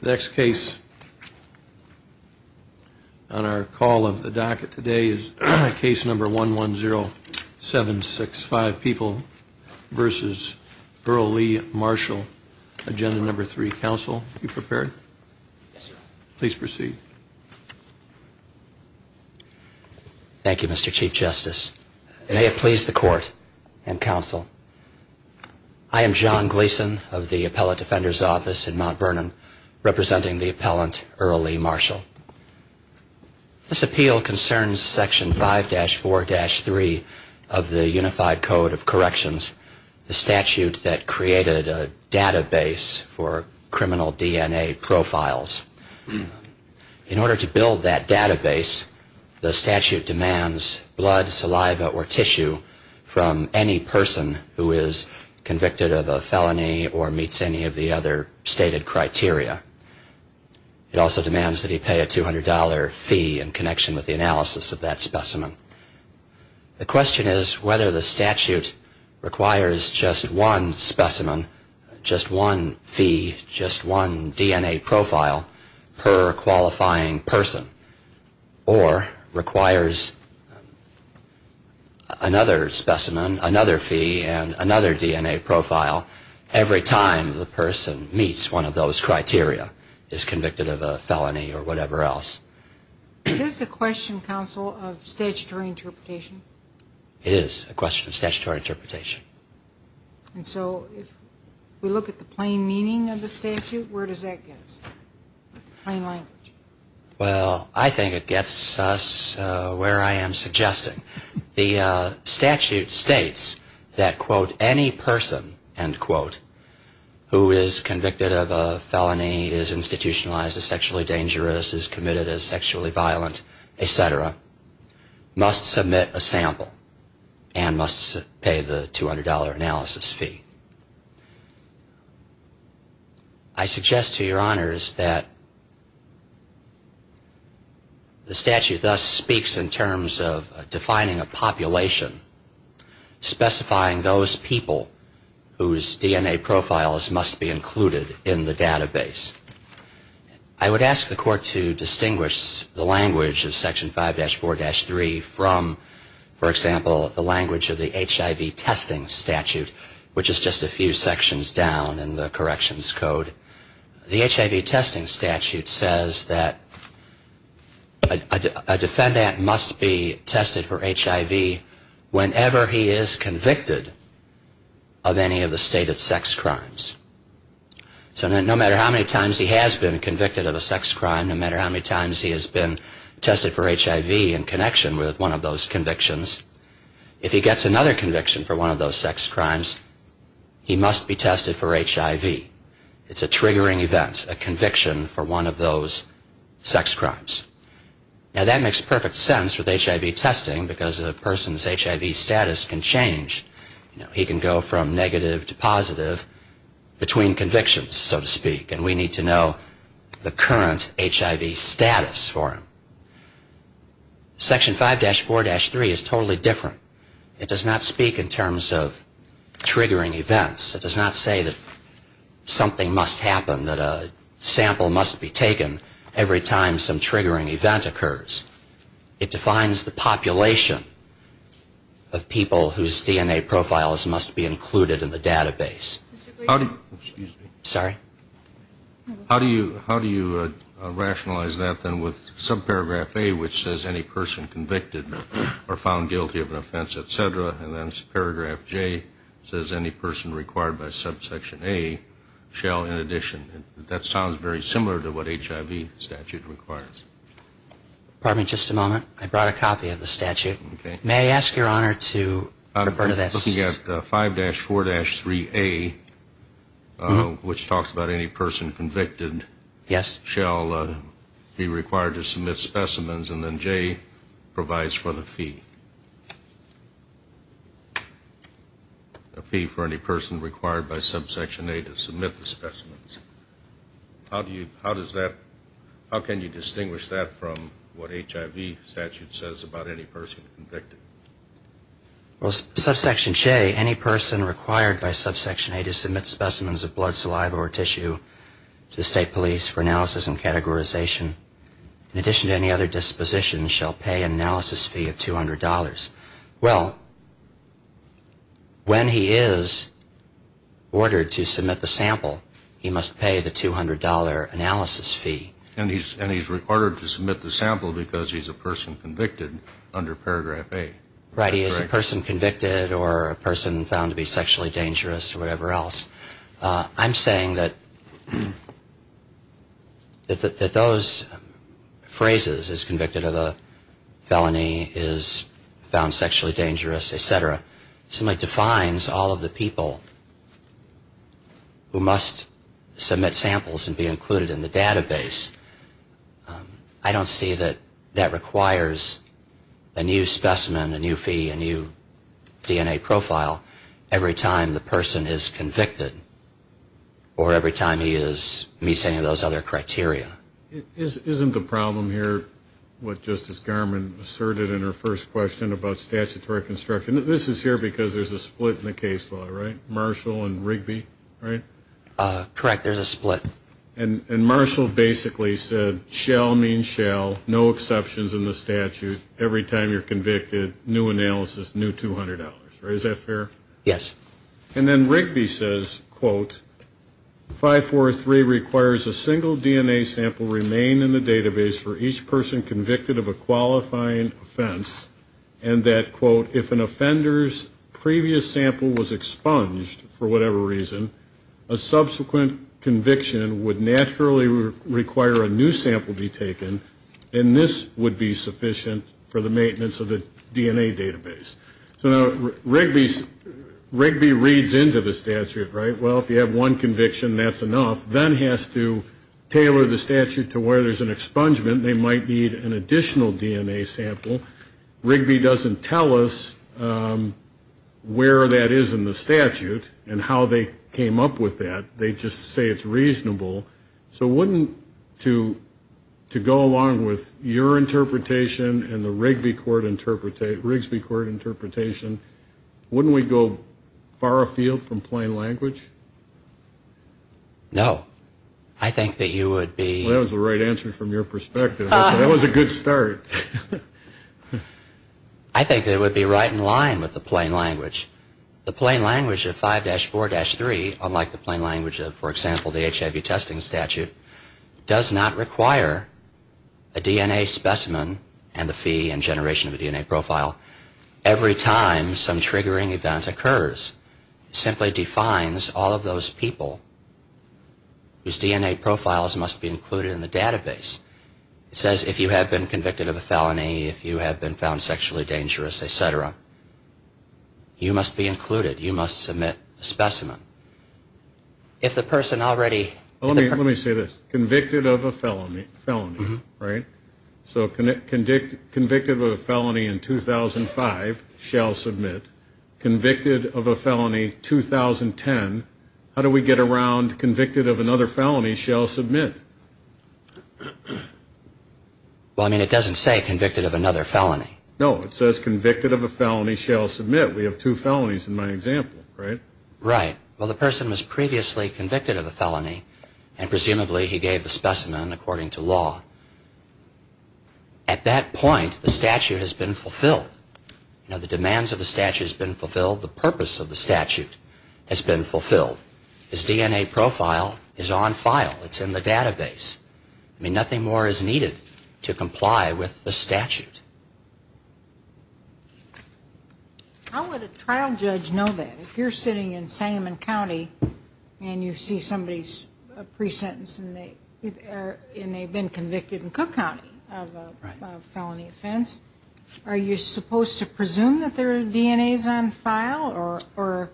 The next case on our call of the docket today is case number 110765, People v. Earl Lee Marshall, Agenda No. 3. Counsel, are you prepared? Yes, sir. Please proceed. Thank you, Mr. Chief Justice. May it please the Court and Counsel, I am John Gleason of the Appellate Defender's Office in Mount Vernon, representing the appellant Earl Lee Marshall. This appeal concerns Section 5-4-3 of the Unified Code of Corrections, the statute that created a database for criminal DNA profiles. In order to build that database, the statute demands blood, saliva, or tissue from any person who is convicted of a felony or meets any of the other stated criteria. It also demands that he pay a $200 fee in connection with the analysis of that specimen. The question is whether the statute requires just one specimen, just one fee, just one DNA profile per qualifying person, or requires another specimen, another fee, and another DNA profile every time the person meets one of those criteria, is convicted of a felony or whatever else. Is this a question, Counsel, of statutory interpretation? It is a question of statutory interpretation. And so if we look at the plain meaning of the statute, where does that get us? Plain language. Well, I think it gets us where I am suggesting. The statute states that, quote, any person, end quote, who is convicted of a felony is institutionalized as sexually dangerous, is committed as sexually violent, et cetera, must submit a sample and must pay the $200 analysis fee. I suggest to your honors that the statute thus speaks in terms of defining a population, specifying those people whose DNA profiles must be included in the database. I would ask the court to distinguish the language of Section 5-4-3 from, for example, the language of the HIV testing statute, which is just a few sections down in the corrections code. The HIV testing statute says that a defendant must be tested for HIV whenever he is convicted of any of the stated sex crimes. So no matter how many times he has been convicted of a sex crime, no matter how many times he has been tested for HIV in connection with one of those convictions, if he gets another conviction for one of those sex crimes, he must be tested for HIV. It's a triggering event, a conviction for one of those sex crimes. Now, that makes perfect sense with HIV testing, because a person's HIV status can change. He can go from negative to positive between convictions, so to speak, and we need to know the current HIV status for him. Section 5-4-3 is totally different. It does not speak in terms of triggering events. It does not say that something must happen, that a sample must be taken every time some triggering event occurs. It defines the population of people whose DNA profiles must be included in the database. Sorry? How do you rationalize that, then, with subparagraph A, which says any person convicted or found guilty of an offense, et cetera, and then paragraph J says any person required by subsection A shall, in addition. That sounds very similar to what HIV statute requires. Pardon me just a moment. I brought a copy of the statute. May I ask Your Honor to refer to this? I'm looking at 5-4-3A, which talks about any person convicted shall be required to submit specimens, and then J provides for the fee, a fee for any person required by subsection A to submit the specimens. How can you distinguish that from what HIV statute says about any person convicted? Well, subsection J, any person required by subsection A to submit specimens of blood, saliva, or tissue to the state police for analysis and categorization, in addition to any other disposition, shall pay an analysis fee of $200. Well, when he is ordered to submit the sample, he must pay the $200 analysis fee. And he's ordered to submit the sample because he's a person convicted under paragraph A. Right, he is a person convicted or a person found to be sexually dangerous or whatever else. I'm saying that those phrases, is convicted of a felony, is found sexually dangerous, et cetera, simply defines all of the people who must submit samples and be included in the database. I don't see that that requires a new specimen, a new fee, a new DNA profile, every time the person is convicted or every time he meets any of those other criteria. Isn't the problem here what Justice Garmon asserted in her first question about statutory construction? This is here because there's a split in the case law, right, Marshall and Rigby, right? Correct, there's a split. And Marshall basically said, shall means shall, no exceptions in the statute, every time you're convicted, new analysis, new $200. Is that fair? Yes. And then Rigby says, quote, 543 requires a single DNA sample remain in the database for each person convicted of a qualifying offense, and that, quote, if an offender's previous sample was expunged for whatever reason, a subsequent conviction would naturally require a new sample be taken, and this would be sufficient for the maintenance of the DNA database. So now Rigby reads into the statute, right? Well, if you have one conviction, that's enough. Then has to tailor the statute to where there's an expungement. They might need an additional DNA sample. Rigby doesn't tell us where that is in the statute and how they came up with that. They just say it's reasonable. So wouldn't, to go along with your interpretation and the Rigby court interpretation, Rigsby court interpretation, wouldn't we go far afield from plain language? No. I think that you would be. Well, that was the right answer from your perspective. That was a good start. I think it would be right in line with the plain language. The plain language of 5-4-3, unlike the plain language of, for example, the HIV testing statute, does not require a DNA specimen and the fee and generation of a DNA profile every time some triggering event occurs. It simply defines all of those people whose DNA profiles must be included in the database. It says if you have been convicted of a felony, if you have been found sexually dangerous, et cetera, you must be included. You must submit a specimen. If the person already is a person. Let me say this. Convicted of a felony, right? So convicted of a felony in 2005 shall submit. Convicted of a felony 2010. How do we get around convicted of another felony shall submit? Well, I mean it doesn't say convicted of another felony. No. It says convicted of a felony shall submit. We have two felonies in my example, right? Right. Well, the person was previously convicted of a felony and presumably he gave the specimen according to law. At that point, the statute has been fulfilled. Now, the demands of the statute has been fulfilled. The purpose of the statute has been fulfilled. His DNA profile is on file. It's in the database. I mean nothing more is needed to comply with the statute. How would a trial judge know that? If you're sitting in Sangamon County and you see somebody's pre-sentence and they've been convicted in Cook County of a felony offense, are you supposed to presume that their DNA is on file or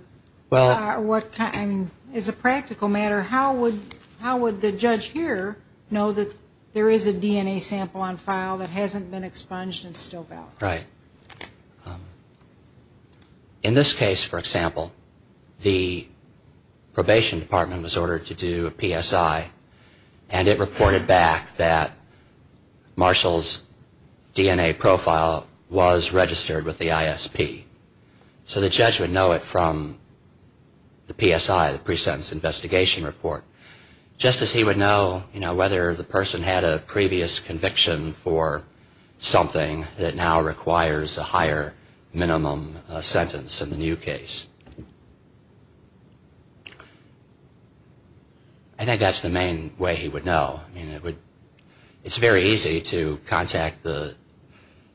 what kind? As a practical matter, how would the judge here know that there is a DNA sample on file that hasn't been expunged and still valid? Right. In this case, for example, the probation department was ordered to do a PSI and it reported back that Marshall's DNA profile was registered with the ISP. So the judge would know it from the PSI, the pre-sentence investigation report, just as he would know whether the person had a previous conviction for something that now requires a higher minimum sentence in the new case. I think that's the main way he would know. It's very easy to contact the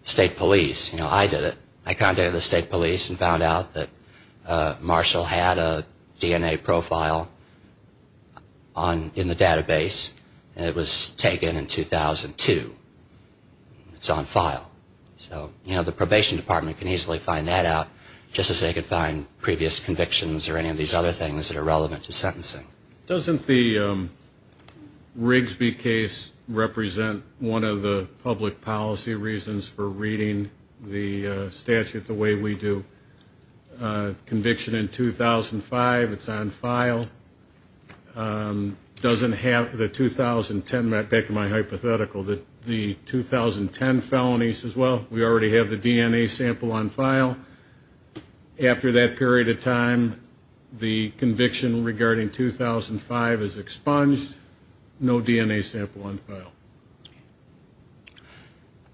state police. You know, I did it. I contacted the state police and found out that Marshall had a DNA profile in the database and it was taken in 2002. It's on file. So, you know, the probation department can easily find that out just as they could find previous convictions or any of these other things that are relevant to sentencing. Doesn't the Rigsby case represent one of the public policy reasons for reading the statute the way we do? Conviction in 2005, it's on file. Doesn't have the 2010, back to my hypothetical, the 2010 felonies as well? We already have the DNA sample on file. After that period of time, the conviction regarding 2005 is expunged. No DNA sample on file.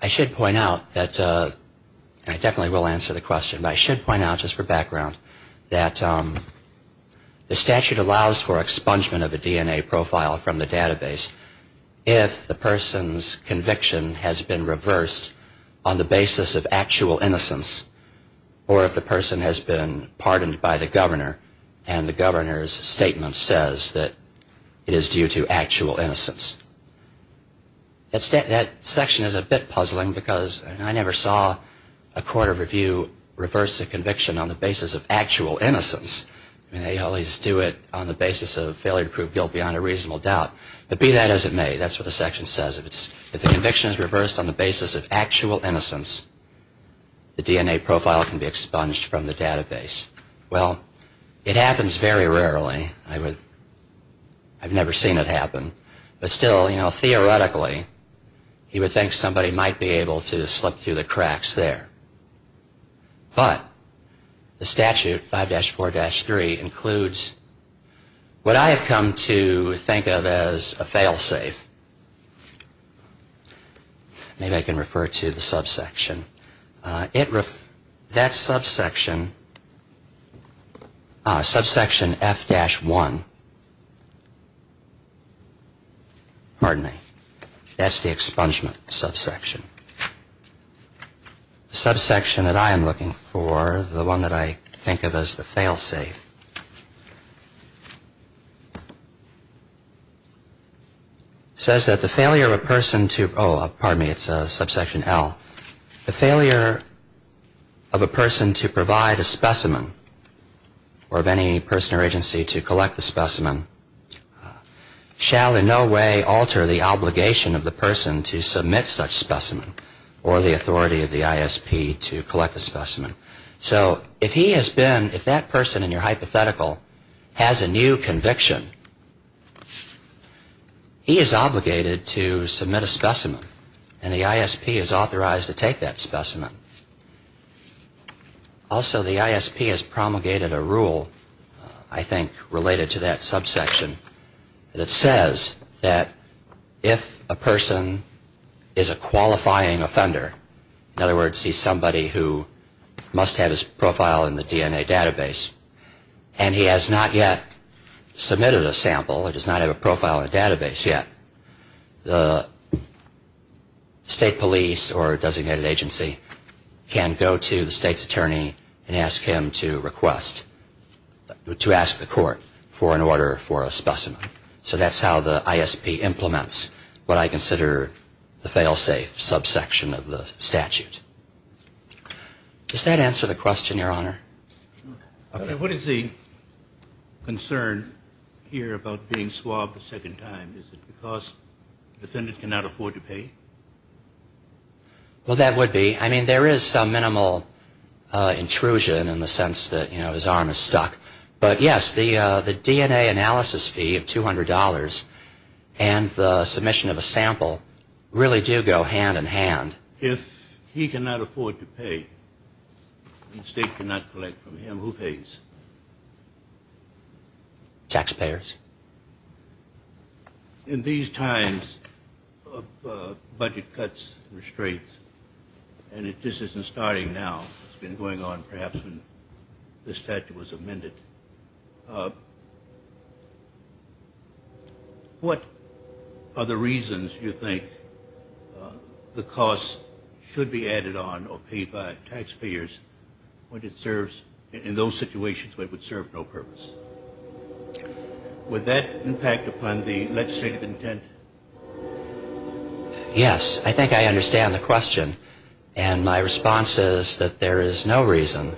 I should point out that, and I definitely will answer the question, but I should point out just for background, that the statute allows for expungement of a DNA profile from the database if the person's conviction has been reversed on the basis of actual innocence or if the person has been pardoned by the governor and the governor's statement says that it is due to actual innocence. That section is a bit puzzling because I never saw a court of review reverse a conviction on the basis of actual innocence. They always do it on the basis of failure to prove guilt beyond a reasonable doubt. But be that as it may, that's what the section says. If the conviction is reversed on the basis of actual innocence, the DNA profile can be expunged from the database. Well, it happens very rarely. I've never seen it happen. But still, you know, theoretically, you would think somebody might be able to slip through the cracks there. But the statute, 5-4-3, includes what I have come to think of as a fail-safe. Maybe I can refer to the subsection. That subsection, subsection F-1, pardon me, that's the expungement subsection. The subsection that I am looking for, the one that I think of as the fail-safe, says that the failure of a person to, oh, pardon me, it's subsection L, the failure of a person to provide a specimen, or of any person or agency to collect the specimen, shall in no way alter the obligation of the person to submit such specimen or the authority of the ISP to collect the specimen. So if he has been, if that person in your hypothetical has a new conviction, he is obligated to submit a specimen, and the ISP is authorized to take that specimen. Also, the ISP has promulgated a rule, I think, related to that subsection, and it says that if a person is a qualifying offender, in other words, he's somebody who must have his profile in the DNA database, and he has not yet submitted a sample or does not have a profile in the database yet, the state police or designated agency can go to the state's attorney and ask him to request, to ask the court for an order for a specimen. So that's how the ISP implements what I consider the fail-safe subsection of the statute. Does that answer the question, Your Honor? What is the concern here about being swabbed a second time? Is it because the defendant cannot afford to pay? Well, that would be. I mean, there is some minimal intrusion in the sense that, you know, his arm is stuck. But, yes, the DNA analysis fee of $200 and the submission of a sample really do go hand in hand. If he cannot afford to pay and the state cannot collect from him, who pays? Taxpayers. In these times of budget cuts and restraints, and it just isn't starting now, it's been going on perhaps since the statute was amended, what are the reasons you think the costs should be added on or paid by taxpayers when it serves, in those situations where it would serve no purpose? Would that impact upon the legislative intent? Yes. I think I understand the question. And my response is that there is no reason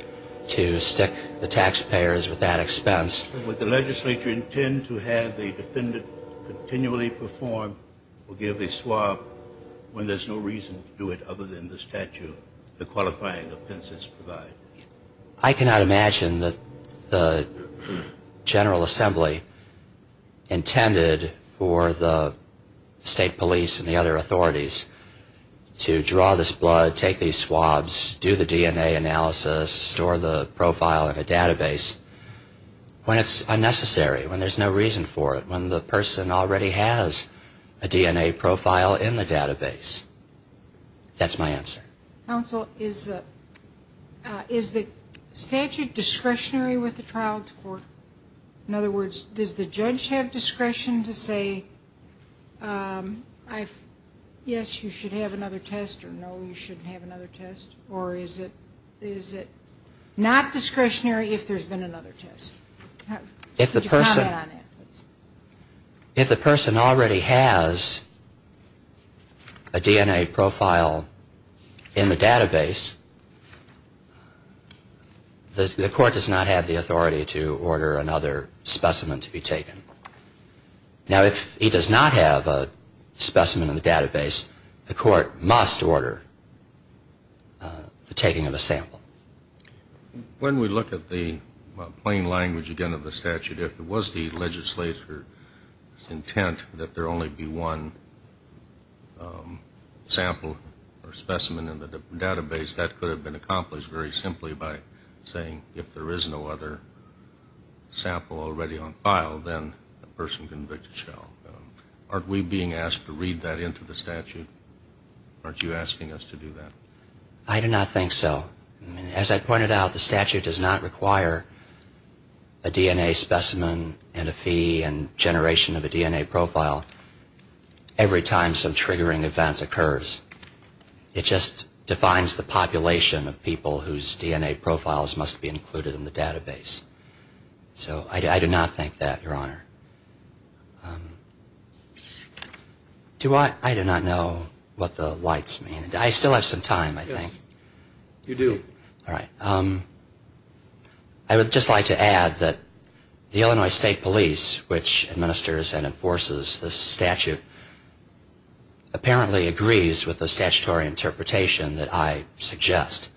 to stick the taxpayers with that expense. Would the legislature intend to have the defendant continually perform or give a swab when there's no reason to do it other than the statute, the qualifying offenses provide? I cannot imagine that the General Assembly intended for the state police and the other authorities to draw this blood, take these swabs, do the DNA analysis, store the profile in a database when it's unnecessary, when there's no reason for it, when the person already has a DNA profile in the database. That's my answer. Counsel, is the statute discretionary with the trial court? In other words, does the judge have discretion to say, yes, you should have another test, or no, you shouldn't have another test? Or is it not discretionary if there's been another test? Could you comment on that? If the person already has a DNA profile in the database, the court does not have the authority to order another specimen to be taken. Now, if he does not have a specimen in the database, the court must order the taking of a sample. When we look at the plain language, again, of the statute, if it was the legislature's intent that there only be one sample or specimen in the database, that could have been accomplished very simply by saying, if there is no other sample already on file, then the person convicted shall go. Aren't we being asked to read that into the statute? Aren't you asking us to do that? I do not think so. As I pointed out, the statute does not require a DNA specimen and a fee and generation of a DNA profile every time some triggering event occurs. It just defines the population of people whose DNA profiles must be included in the database. So I do not think that, Your Honor. I do not know what the lights mean. I still have some time, I think. You do. All right. I would just like to add that the Illinois State Police, which administers and enforces this statute, apparently agrees with the statutory interpretation that I suggest.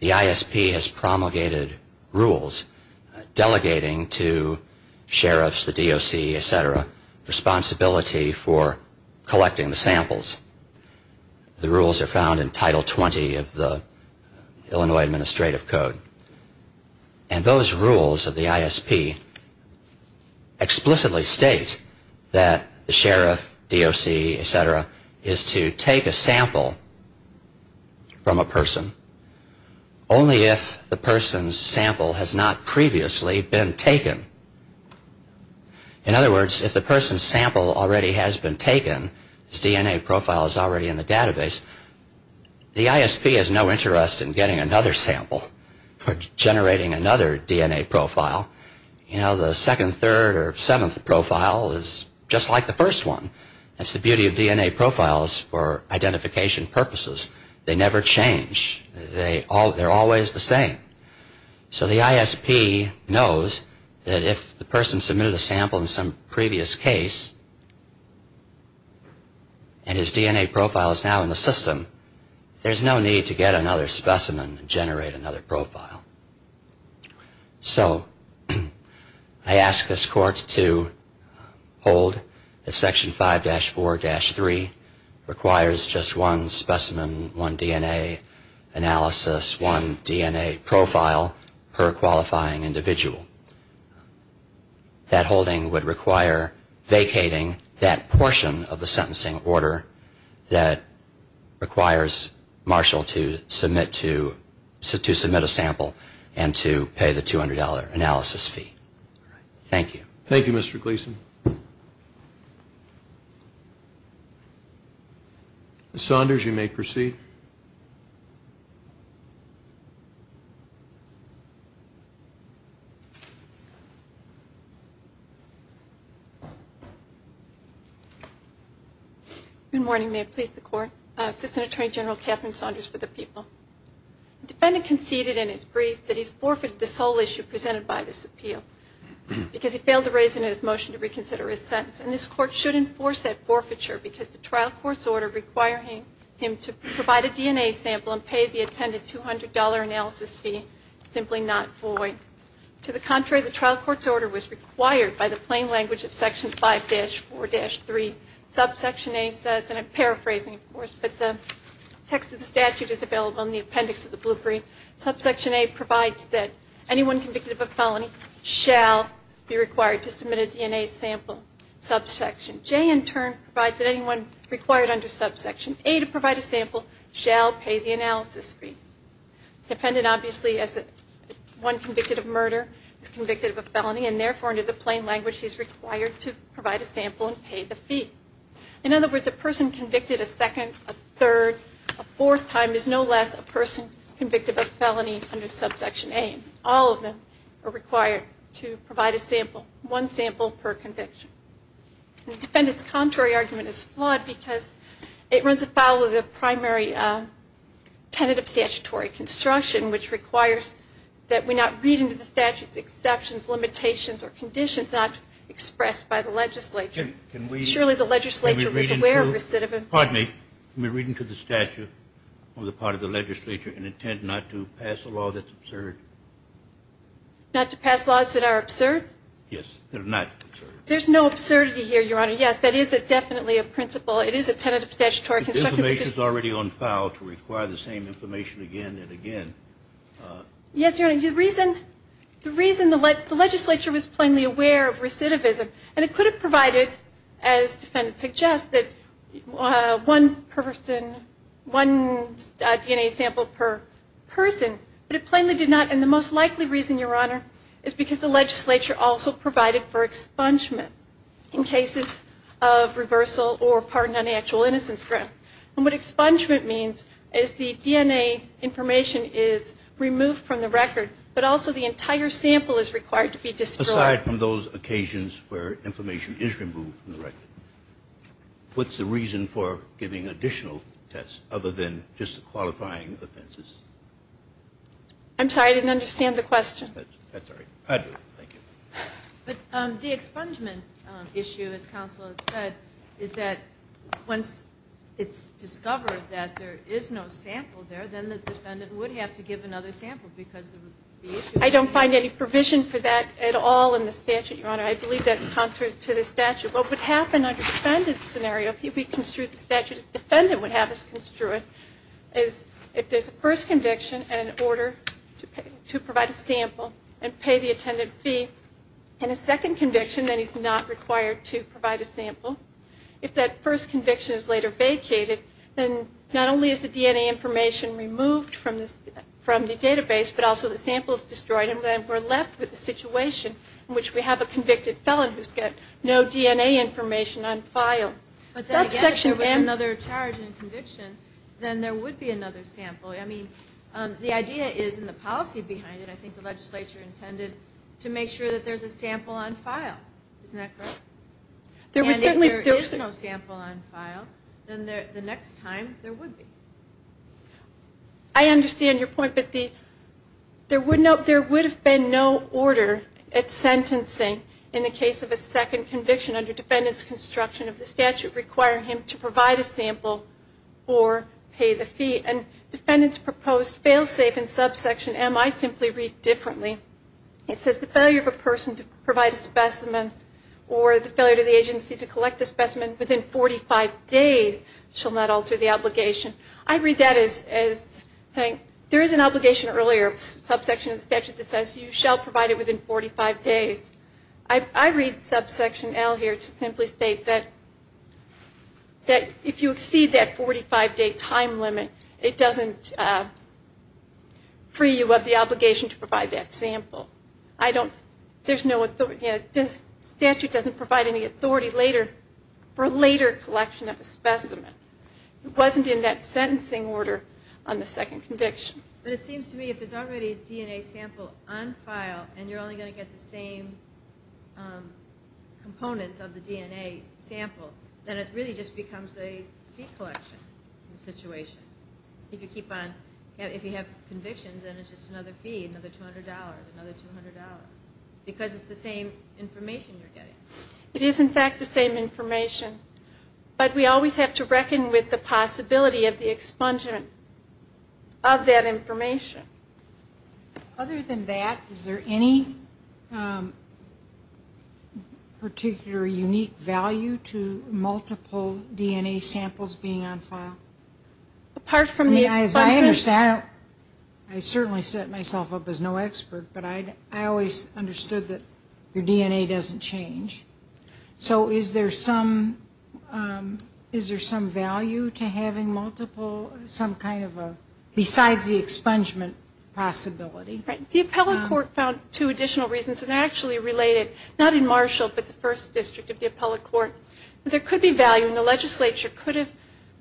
The ISP has promulgated rules delegating to sheriffs, the DOC, et cetera, responsibility for collecting the samples. The rules are found in Title 20 of the Illinois Administrative Code. And those rules of the ISP explicitly state that the sheriff, DOC, et cetera, is to take a sample from a person only if the person's sample has not previously been taken. In other words, if the person's sample already has been taken, his DNA profile is already in the database, the ISP has no interest in getting another sample or generating another DNA profile. You know, the second, third, or seventh profile is just like the first one. That's the beauty of DNA profiles for identification purposes. They never change. They're always the same. So the ISP knows that if the person submitted a sample in some previous case and his DNA profile is now in the system, there's no need to get another specimen and generate another profile. So I ask this Court to hold that Section 5-4-3 requires just one specimen, one DNA analysis, one DNA profile per qualifying individual. That holding would require vacating that portion of the sentencing order that requires Marshall to submit a sample and to pay the $200 analysis fee. Thank you. Thank you, Mr. Gleason. Ms. Saunders, you may proceed. Good morning. May it please the Court. Assistant Attorney General Catherine Saunders for the people. The defendant conceded in his brief that he's forfeited the sole issue presented by this appeal because he failed to raise in his motion to reconsider his sentence. And this Court should enforce that forfeiture because the trial court's order requiring him to provide a DNA sample and pay the attended $200 analysis fee is simply not void. To the contrary, the trial court's order was required by the plain language of Section 5-4-3. Subsection A says, and I'm paraphrasing, of course, but the text of the statute is available in the appendix of the blueprint. Subsection A provides that anyone convicted of a felony shall be required to submit a DNA sample. Subsection J, in turn, provides that anyone required under Subsection A to provide a sample shall pay the analysis fee. Defendant obviously, as one convicted of murder, is convicted of a felony and therefore under the plain language he's required to provide a sample and pay the fee. In other words, a person convicted a second, a third, a fourth time is no less a person convicted of a felony under Subsection A. All of them are required to provide a sample, one sample per conviction. The defendant's contrary argument is flawed because it runs afoul of the primary tentative statutory construction which requires that we not read into the statute's exceptions, limitations, or conditions not expressed by the legislature. Surely the legislature was aware of recidivism. Pardon me. Can we read into the statute on the part of the legislature an intent not to pass a law that's absurd? Not to pass laws that are absurd? Yes, that are not absurd. There's no absurdity here, Your Honor. Yes, that is definitely a principle. It is a tentative statutory construction. The information is already on file to require the same information again and again. Yes, Your Honor. The reason the legislature was plainly aware of recidivism, and it could have provided, as the defendant suggested, one person, one DNA sample per person, but it plainly did not. And the most likely reason, Your Honor, is because the legislature also provided for expungement in cases of reversal or pardon on the actual innocence grant. And what expungement means is the DNA information is removed from the record, but also the entire sample is required to be destroyed. Aside from those occasions where information is removed from the record, what's the reason for giving additional tests other than just the qualifying offenses? I'm sorry. I didn't understand the question. That's all right. I do. Thank you. But the expungement issue, as counsel had said, is that once it's discovered that there is no sample there, then the defendant would have to give another sample because of the issue. I don't find any provision for that at all in the statute, Your Honor. I believe that's contrary to the statute. What would happen under the defendant's scenario, if we construe the statute as the defendant would have us construe it, is if there's a first conviction in order to provide a sample and pay the attendant fee, and a second conviction, then he's not required to provide a sample. If that first conviction is later vacated, then not only is the DNA information removed from the database, but also the sample is destroyed, and then we're left with a situation in which we have a convicted felon who's got no DNA information on file. But then I guess if there was another charge and conviction, then there would be another sample. I mean, the idea is, and the policy behind it, I think the legislature intended to make sure that there's a sample on file. Isn't that correct? And if there is no sample on file, then the next time there would be. I understand your point, but there would have been no order at sentencing in the case of a second conviction under defendant's construction of the statute requiring him to provide a sample or pay the fee. And defendants proposed fail-safe in subsection M. I simply read differently. It says the failure of a person to provide a specimen or the failure to the agency to collect the specimen within 45 days shall not alter the obligation. I read that as saying there is an obligation earlier, subsection of the statute that says you shall provide it within 45 days. I read subsection L here to simply state that if you exceed that 45-day time limit, it doesn't free you of the obligation to provide that sample. I don't, there's no, the statute doesn't provide any authority later for later collection of a specimen. It wasn't in that sentencing order on the second conviction. But it seems to me if there's already a DNA sample on file and you're only going to get the same components of the DNA sample, then it really just becomes a fee collection situation. If you keep on, if you have convictions, then it's just another fee, another $200, another $200. Because it's the same information you're getting. It is, in fact, the same information. But we always have to reckon with the possibility of the expungement of that information. Other than that, is there any particular unique value to multiple DNA samples being on file? I mean, as I understand it, I certainly set myself up as no expert, but I always understood that your DNA doesn't change. So is there some value to having multiple, some kind of a, besides the expungement possibility? The appellate court found two additional reasons, and they're actually related, not in Marshall, but the first district of the appellate court. There could be value, and the legislature could have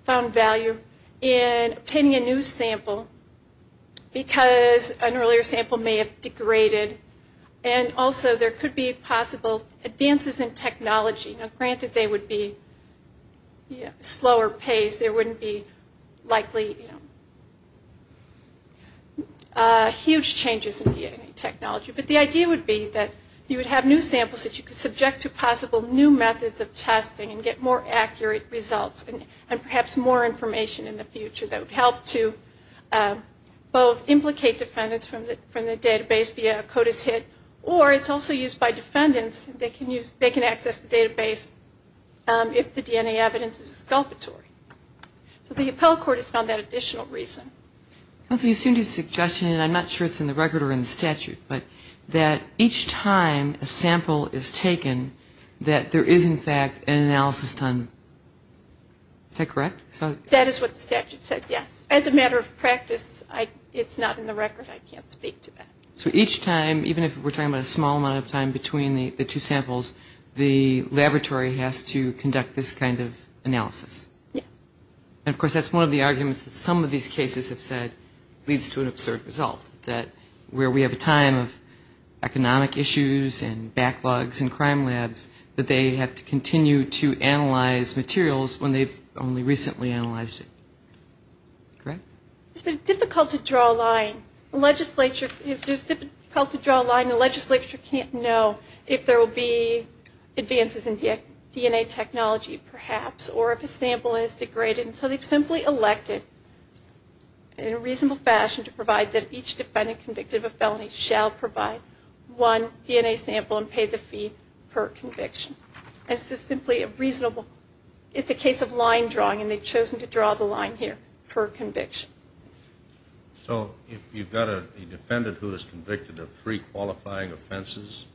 found value in obtaining a new sample because an earlier sample may have degraded. And also there could be possible advances in technology. Now, granted, they would be slower paced. There wouldn't be likely huge changes in DNA technology. But the idea would be that you would have new samples that you could subject to possible new methods of testing and get more accurate results and perhaps more information in the future that would help to both implicate defendants from the database via a CODIS hit, or it's also used by defendants. They can access the database if the DNA evidence is exculpatory. So the appellate court has found that additional reason. Counsel, you seem to be suggesting, and I'm not sure it's in the record or in the statute, but that each time a sample is taken, that there is, in fact, an analysis done. Is that correct? That is what the statute says, yes. As a matter of practice, it's not in the record. I can't speak to that. So each time, even if we're talking about a small amount of time between the two samples, the laboratory has to conduct this kind of analysis? Yes. And, of course, that's one of the arguments that some of these cases have said leads to an absurd result, that where we have a time of economic issues and backlogs and crime labs, that they have to continue to analyze materials when they've only recently analyzed it. Correct? It's been difficult to draw a line. It's difficult to draw a line. The legislature can't know if there will be advances in DNA technology, perhaps, or if a sample is degraded. So they've simply elected, in a reasonable fashion, to provide that each defendant convicted of a felony shall provide one DNA sample and pay the fee per conviction. It's a case of line drawing, and they've chosen to draw the line here per conviction. So if you've got a defendant who is convicted of three qualifying offenses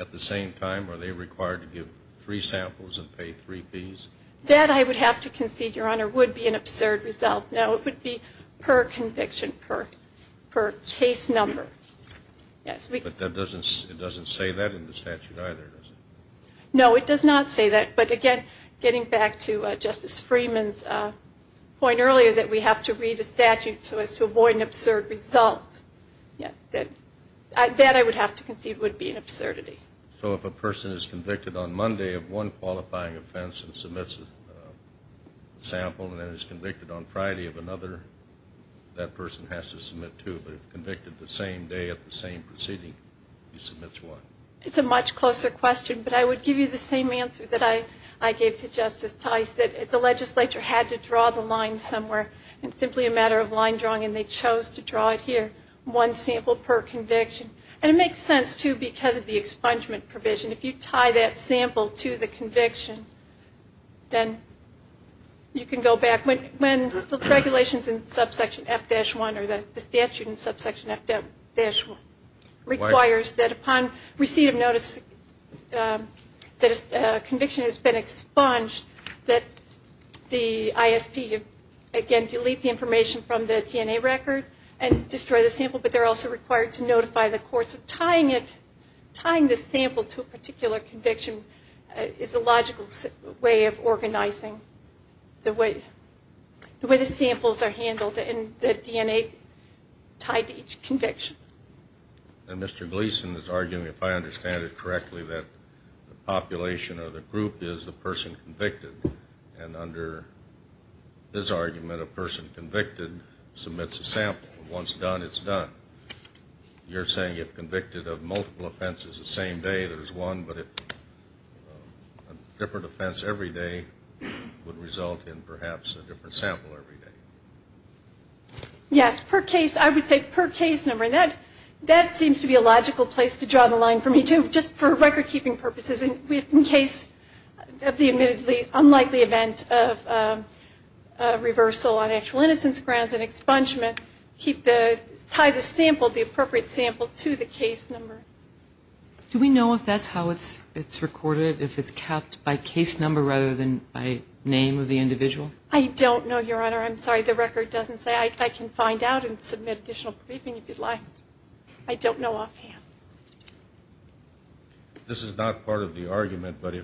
at the same time, are they required to give three samples and pay three fees? That, I would have to concede, Your Honor, would be an absurd result. No, it would be per conviction, per case number. But it doesn't say that in the statute either, does it? No, it does not say that. But, again, getting back to Justice Freeman's point earlier that we have to read a statute so as to avoid an absurd result, that, I would have to concede, would be an absurdity. So if a person is convicted on Monday of one qualifying offense and submits a sample and then is convicted on Friday of another, that person has to submit two. But if convicted the same day at the same proceeding, he submits one. It's a much closer question, but I would give you the same answer that I gave to Justice Tice, that the legislature had to draw the line somewhere. It's simply a matter of line drawing, and they chose to draw it here, one sample per conviction. And it makes sense, too, because of the expungement provision. If you tie that sample to the conviction, then you can go back. When the regulations in Subsection F-1 or the statute in Subsection F-1 requires that upon receipt of notice that a conviction has been expunged, that the ISP, again, delete the information from the DNA record and destroy the sample, but they're also required to notify the courts. So tying the sample to a particular conviction is a logical way of organizing the way the samples are handled and the DNA tied to each conviction. And Mr. Gleason is arguing, if I understand it correctly, that the population or the group is the person convicted. And under his argument, a person convicted submits a sample. Once done, it's done. You're saying if convicted of multiple offenses the same day, there's one, but if a different offense every day would result in perhaps a different sample every day. Yes, per case. I would say per case number. And that seems to be a logical place to draw the line for me, too, just for record-keeping purposes. In case of the admittedly unlikely event of reversal on actual innocence grounds and expungement, tie the sample, the appropriate sample, to the case number. Do we know if that's how it's recorded, if it's capped by case number rather than by name of the individual? I don't know, Your Honor. I'm sorry. The record doesn't say. I can find out and submit additional briefing if you'd like. I don't know offhand. This is not part of the argument, but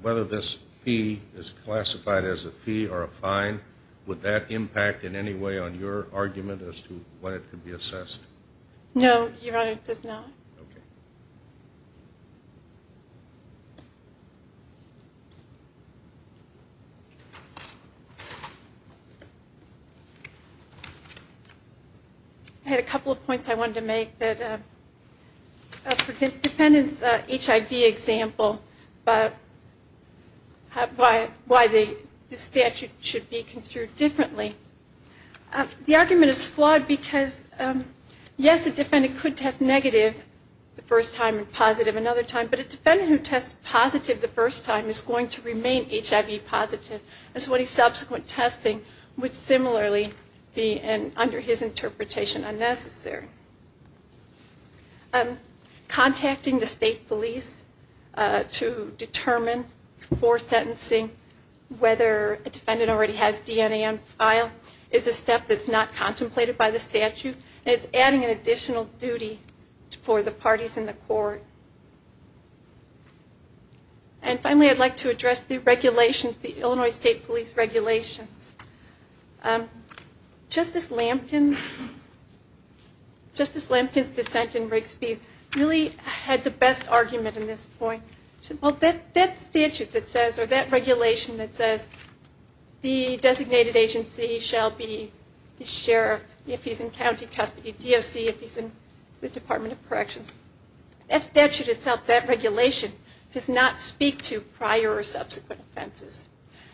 whether this fee is classified as a fee or a fine, would that impact in any way on your argument as to when it could be assessed? No, Your Honor, it does not. Okay. I had a couple of points I wanted to make. One is that, for the defendant's HIV example, why the statute should be construed differently. The argument is flawed because, yes, a defendant could test negative the first time and positive another time, but a defendant who tests positive the first time is going to remain HIV positive. Subsequent testing would similarly be, under his interpretation, unnecessary. Contacting the state police to determine before sentencing whether a defendant already has DNA on file is a step that's not contemplated by the statute, and it's adding an additional duty for the parties in the court. And finally, I'd like to address the regulations, the Illinois State Police regulations. Justice Lampkin's dissent in Rigsby really had the best argument in this point. She said, well, that statute that says, or that regulation that says, the designated agency shall be the sheriff if he's in county custody, DOC if he's in the Department of Corrections, that statute itself, that regulation, does not speak to prior or subsequent offenses.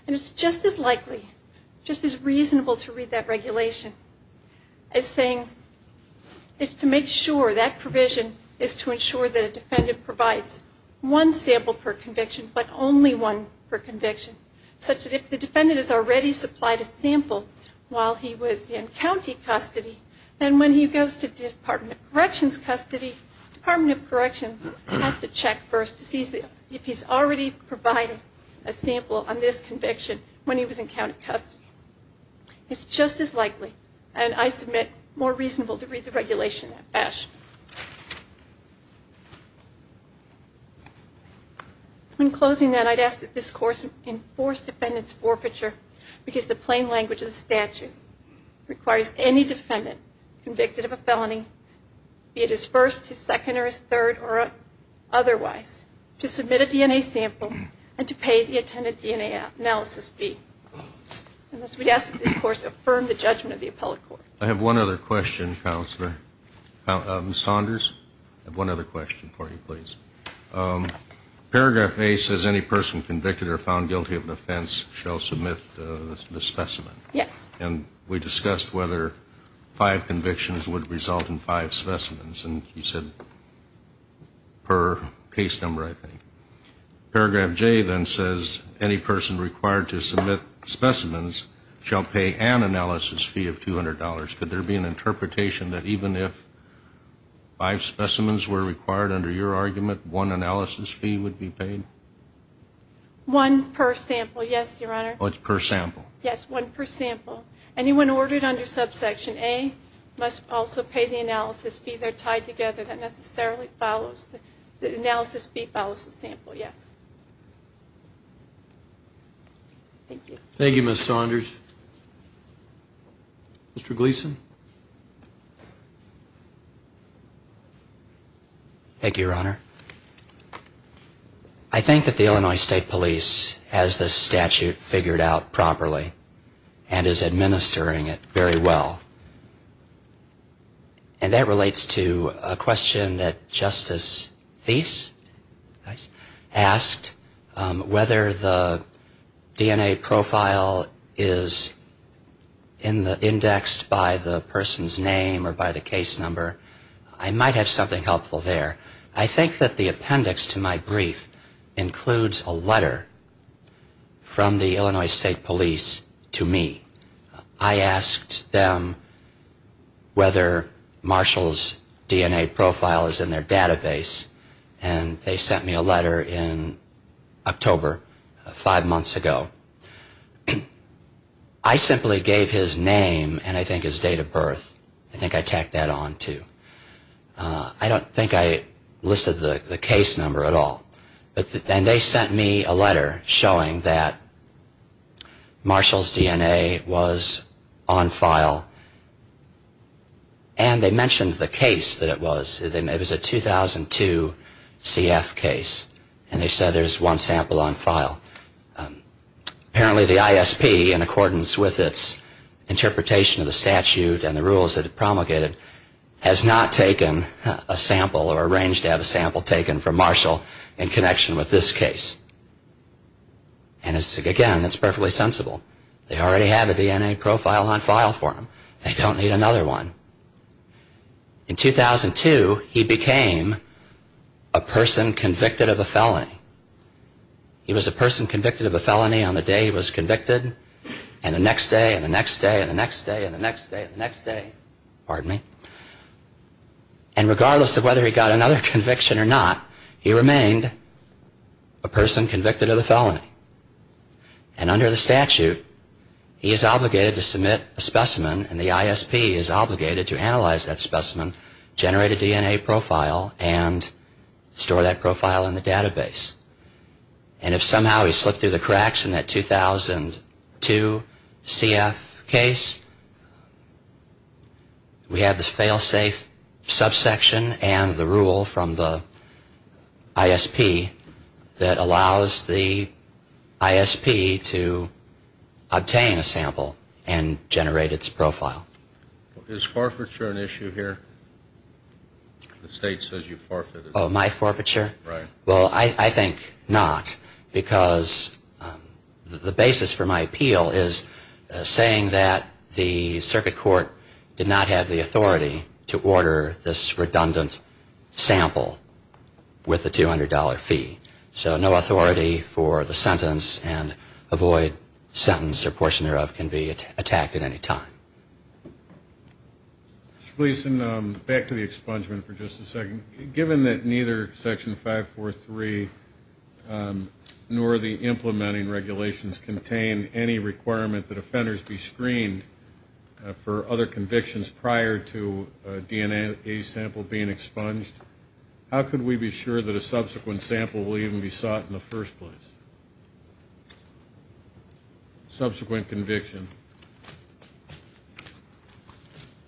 And it's just as likely, just as reasonable to read that regulation as saying, it's to make sure that provision is to ensure that a defendant provides one sample per conviction, but only one per conviction. Such that if the defendant has already supplied a sample while he was in county custody, then when he goes to Department of Corrections custody, Department of Corrections has to check first to see if he's already provided a sample on this conviction when he was in county custody. It's just as likely, and I submit, more reasonable to read the regulation in that fashion. In closing then, I'd ask that this course enforce defendant's forfeiture, because the plain language of the statute requires any defendant convicted of a felony, be it his first, his second, or his third, or otherwise, to submit a DNA sample and to pay the attendant DNA analysis fee. And thus we ask that this course affirm the judgment of the appellate court. I have one other question, Counselor Saunders. I have one other question for you, please. Paragraph A says any person convicted or found guilty of an offense shall submit the specimen. Yes. And we discussed whether five convictions would result in five specimens, and you said per case number, I think. Paragraph J then says any person required to submit specimens shall pay an analysis fee of $200. Could there be an interpretation that even if five specimens were required under your argument, one analysis fee would be paid? One per sample, yes, Your Honor. Oh, it's per sample. Yes, one per sample. Anyone ordered under subsection A must also pay the analysis fee. They're tied together. That necessarily follows. The analysis fee follows the sample, yes. Thank you. Thank you, Ms. Saunders. Mr. Gleeson. Thank you, Your Honor. I think that the Illinois State Police has this statute figured out properly and is administering it very well. And that relates to a question that Justice Theis asked, whether the DNA profile is indexed by the person's name or by the case number. I might have something helpful there. I think that the appendix to my brief includes a letter from the Illinois State Police to me. I asked them whether Marshall's DNA profile is in their database, and they sent me a letter in October, five months ago. I simply gave his name and, I think, his date of birth. I think I tacked that on, too. I don't think I listed the case number at all. And they sent me a letter showing that Marshall's DNA was on file. And they mentioned the case that it was. It was a 2002 CF case, and they said there's one sample on file. Apparently, the ISP, in accordance with its interpretation of the statute and the rules that it promulgated, has not taken a sample or arranged to have a sample taken from Marshall in connection with this case. And, again, that's perfectly sensible. They already have a DNA profile on file for him. They don't need another one. In 2002, he became a person convicted of a felony. He was a person convicted of a felony on the day he was convicted, and the next day, and the next day, and the next day, and the next day, and the next day. Pardon me. And regardless of whether he got another conviction or not, he remained a person convicted of a felony. And under the statute, he is obligated to submit a specimen, and the ISP is obligated to analyze that specimen, generate a DNA profile, and store that profile in the database. And if somehow he slipped through the cracks in that 2002 CF case, we have the failsafe subsection and the rule from the ISP that allows the ISP to obtain a sample and generate its profile. Is forfeiture an issue here? The state says you forfeit. Oh, my forfeiture? Right. Well, I think not, because the basis for my appeal is saying that the circuit court did not have the authority to order this redundant sample with a $200 fee. So no authority for the sentence and avoid sentence or portion thereof can be attacked at any time. Mr. Fleeson, back to the expungement for just a second. Given that neither Section 543 nor the implementing regulations contain any requirement that offenders be screened for other convictions prior to a DNA sample being expunged, how could we be sure that a subsequent sample will even be sought in the first place? Subsequent conviction.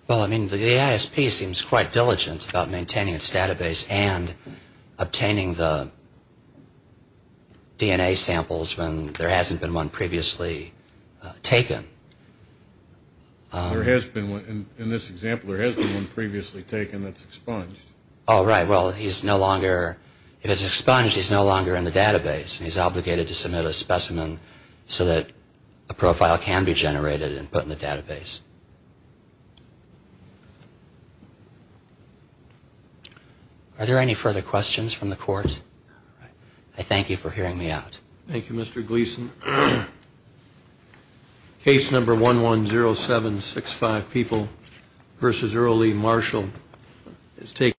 Well, I mean, the ISP seems quite diligent about maintaining its database and obtaining the DNA samples when there hasn't been one previously taken. There has been one. In this example, there has been one previously taken that's expunged. Oh, right. Well, if it's expunged, he's no longer in the database. He's obligated to submit a specimen so that a profile can be generated and put in the database. Are there any further questions from the court? I thank you for hearing me out. Thank you, Mr. Gleeson. Case number 110765, People v. Earl E. Marshall.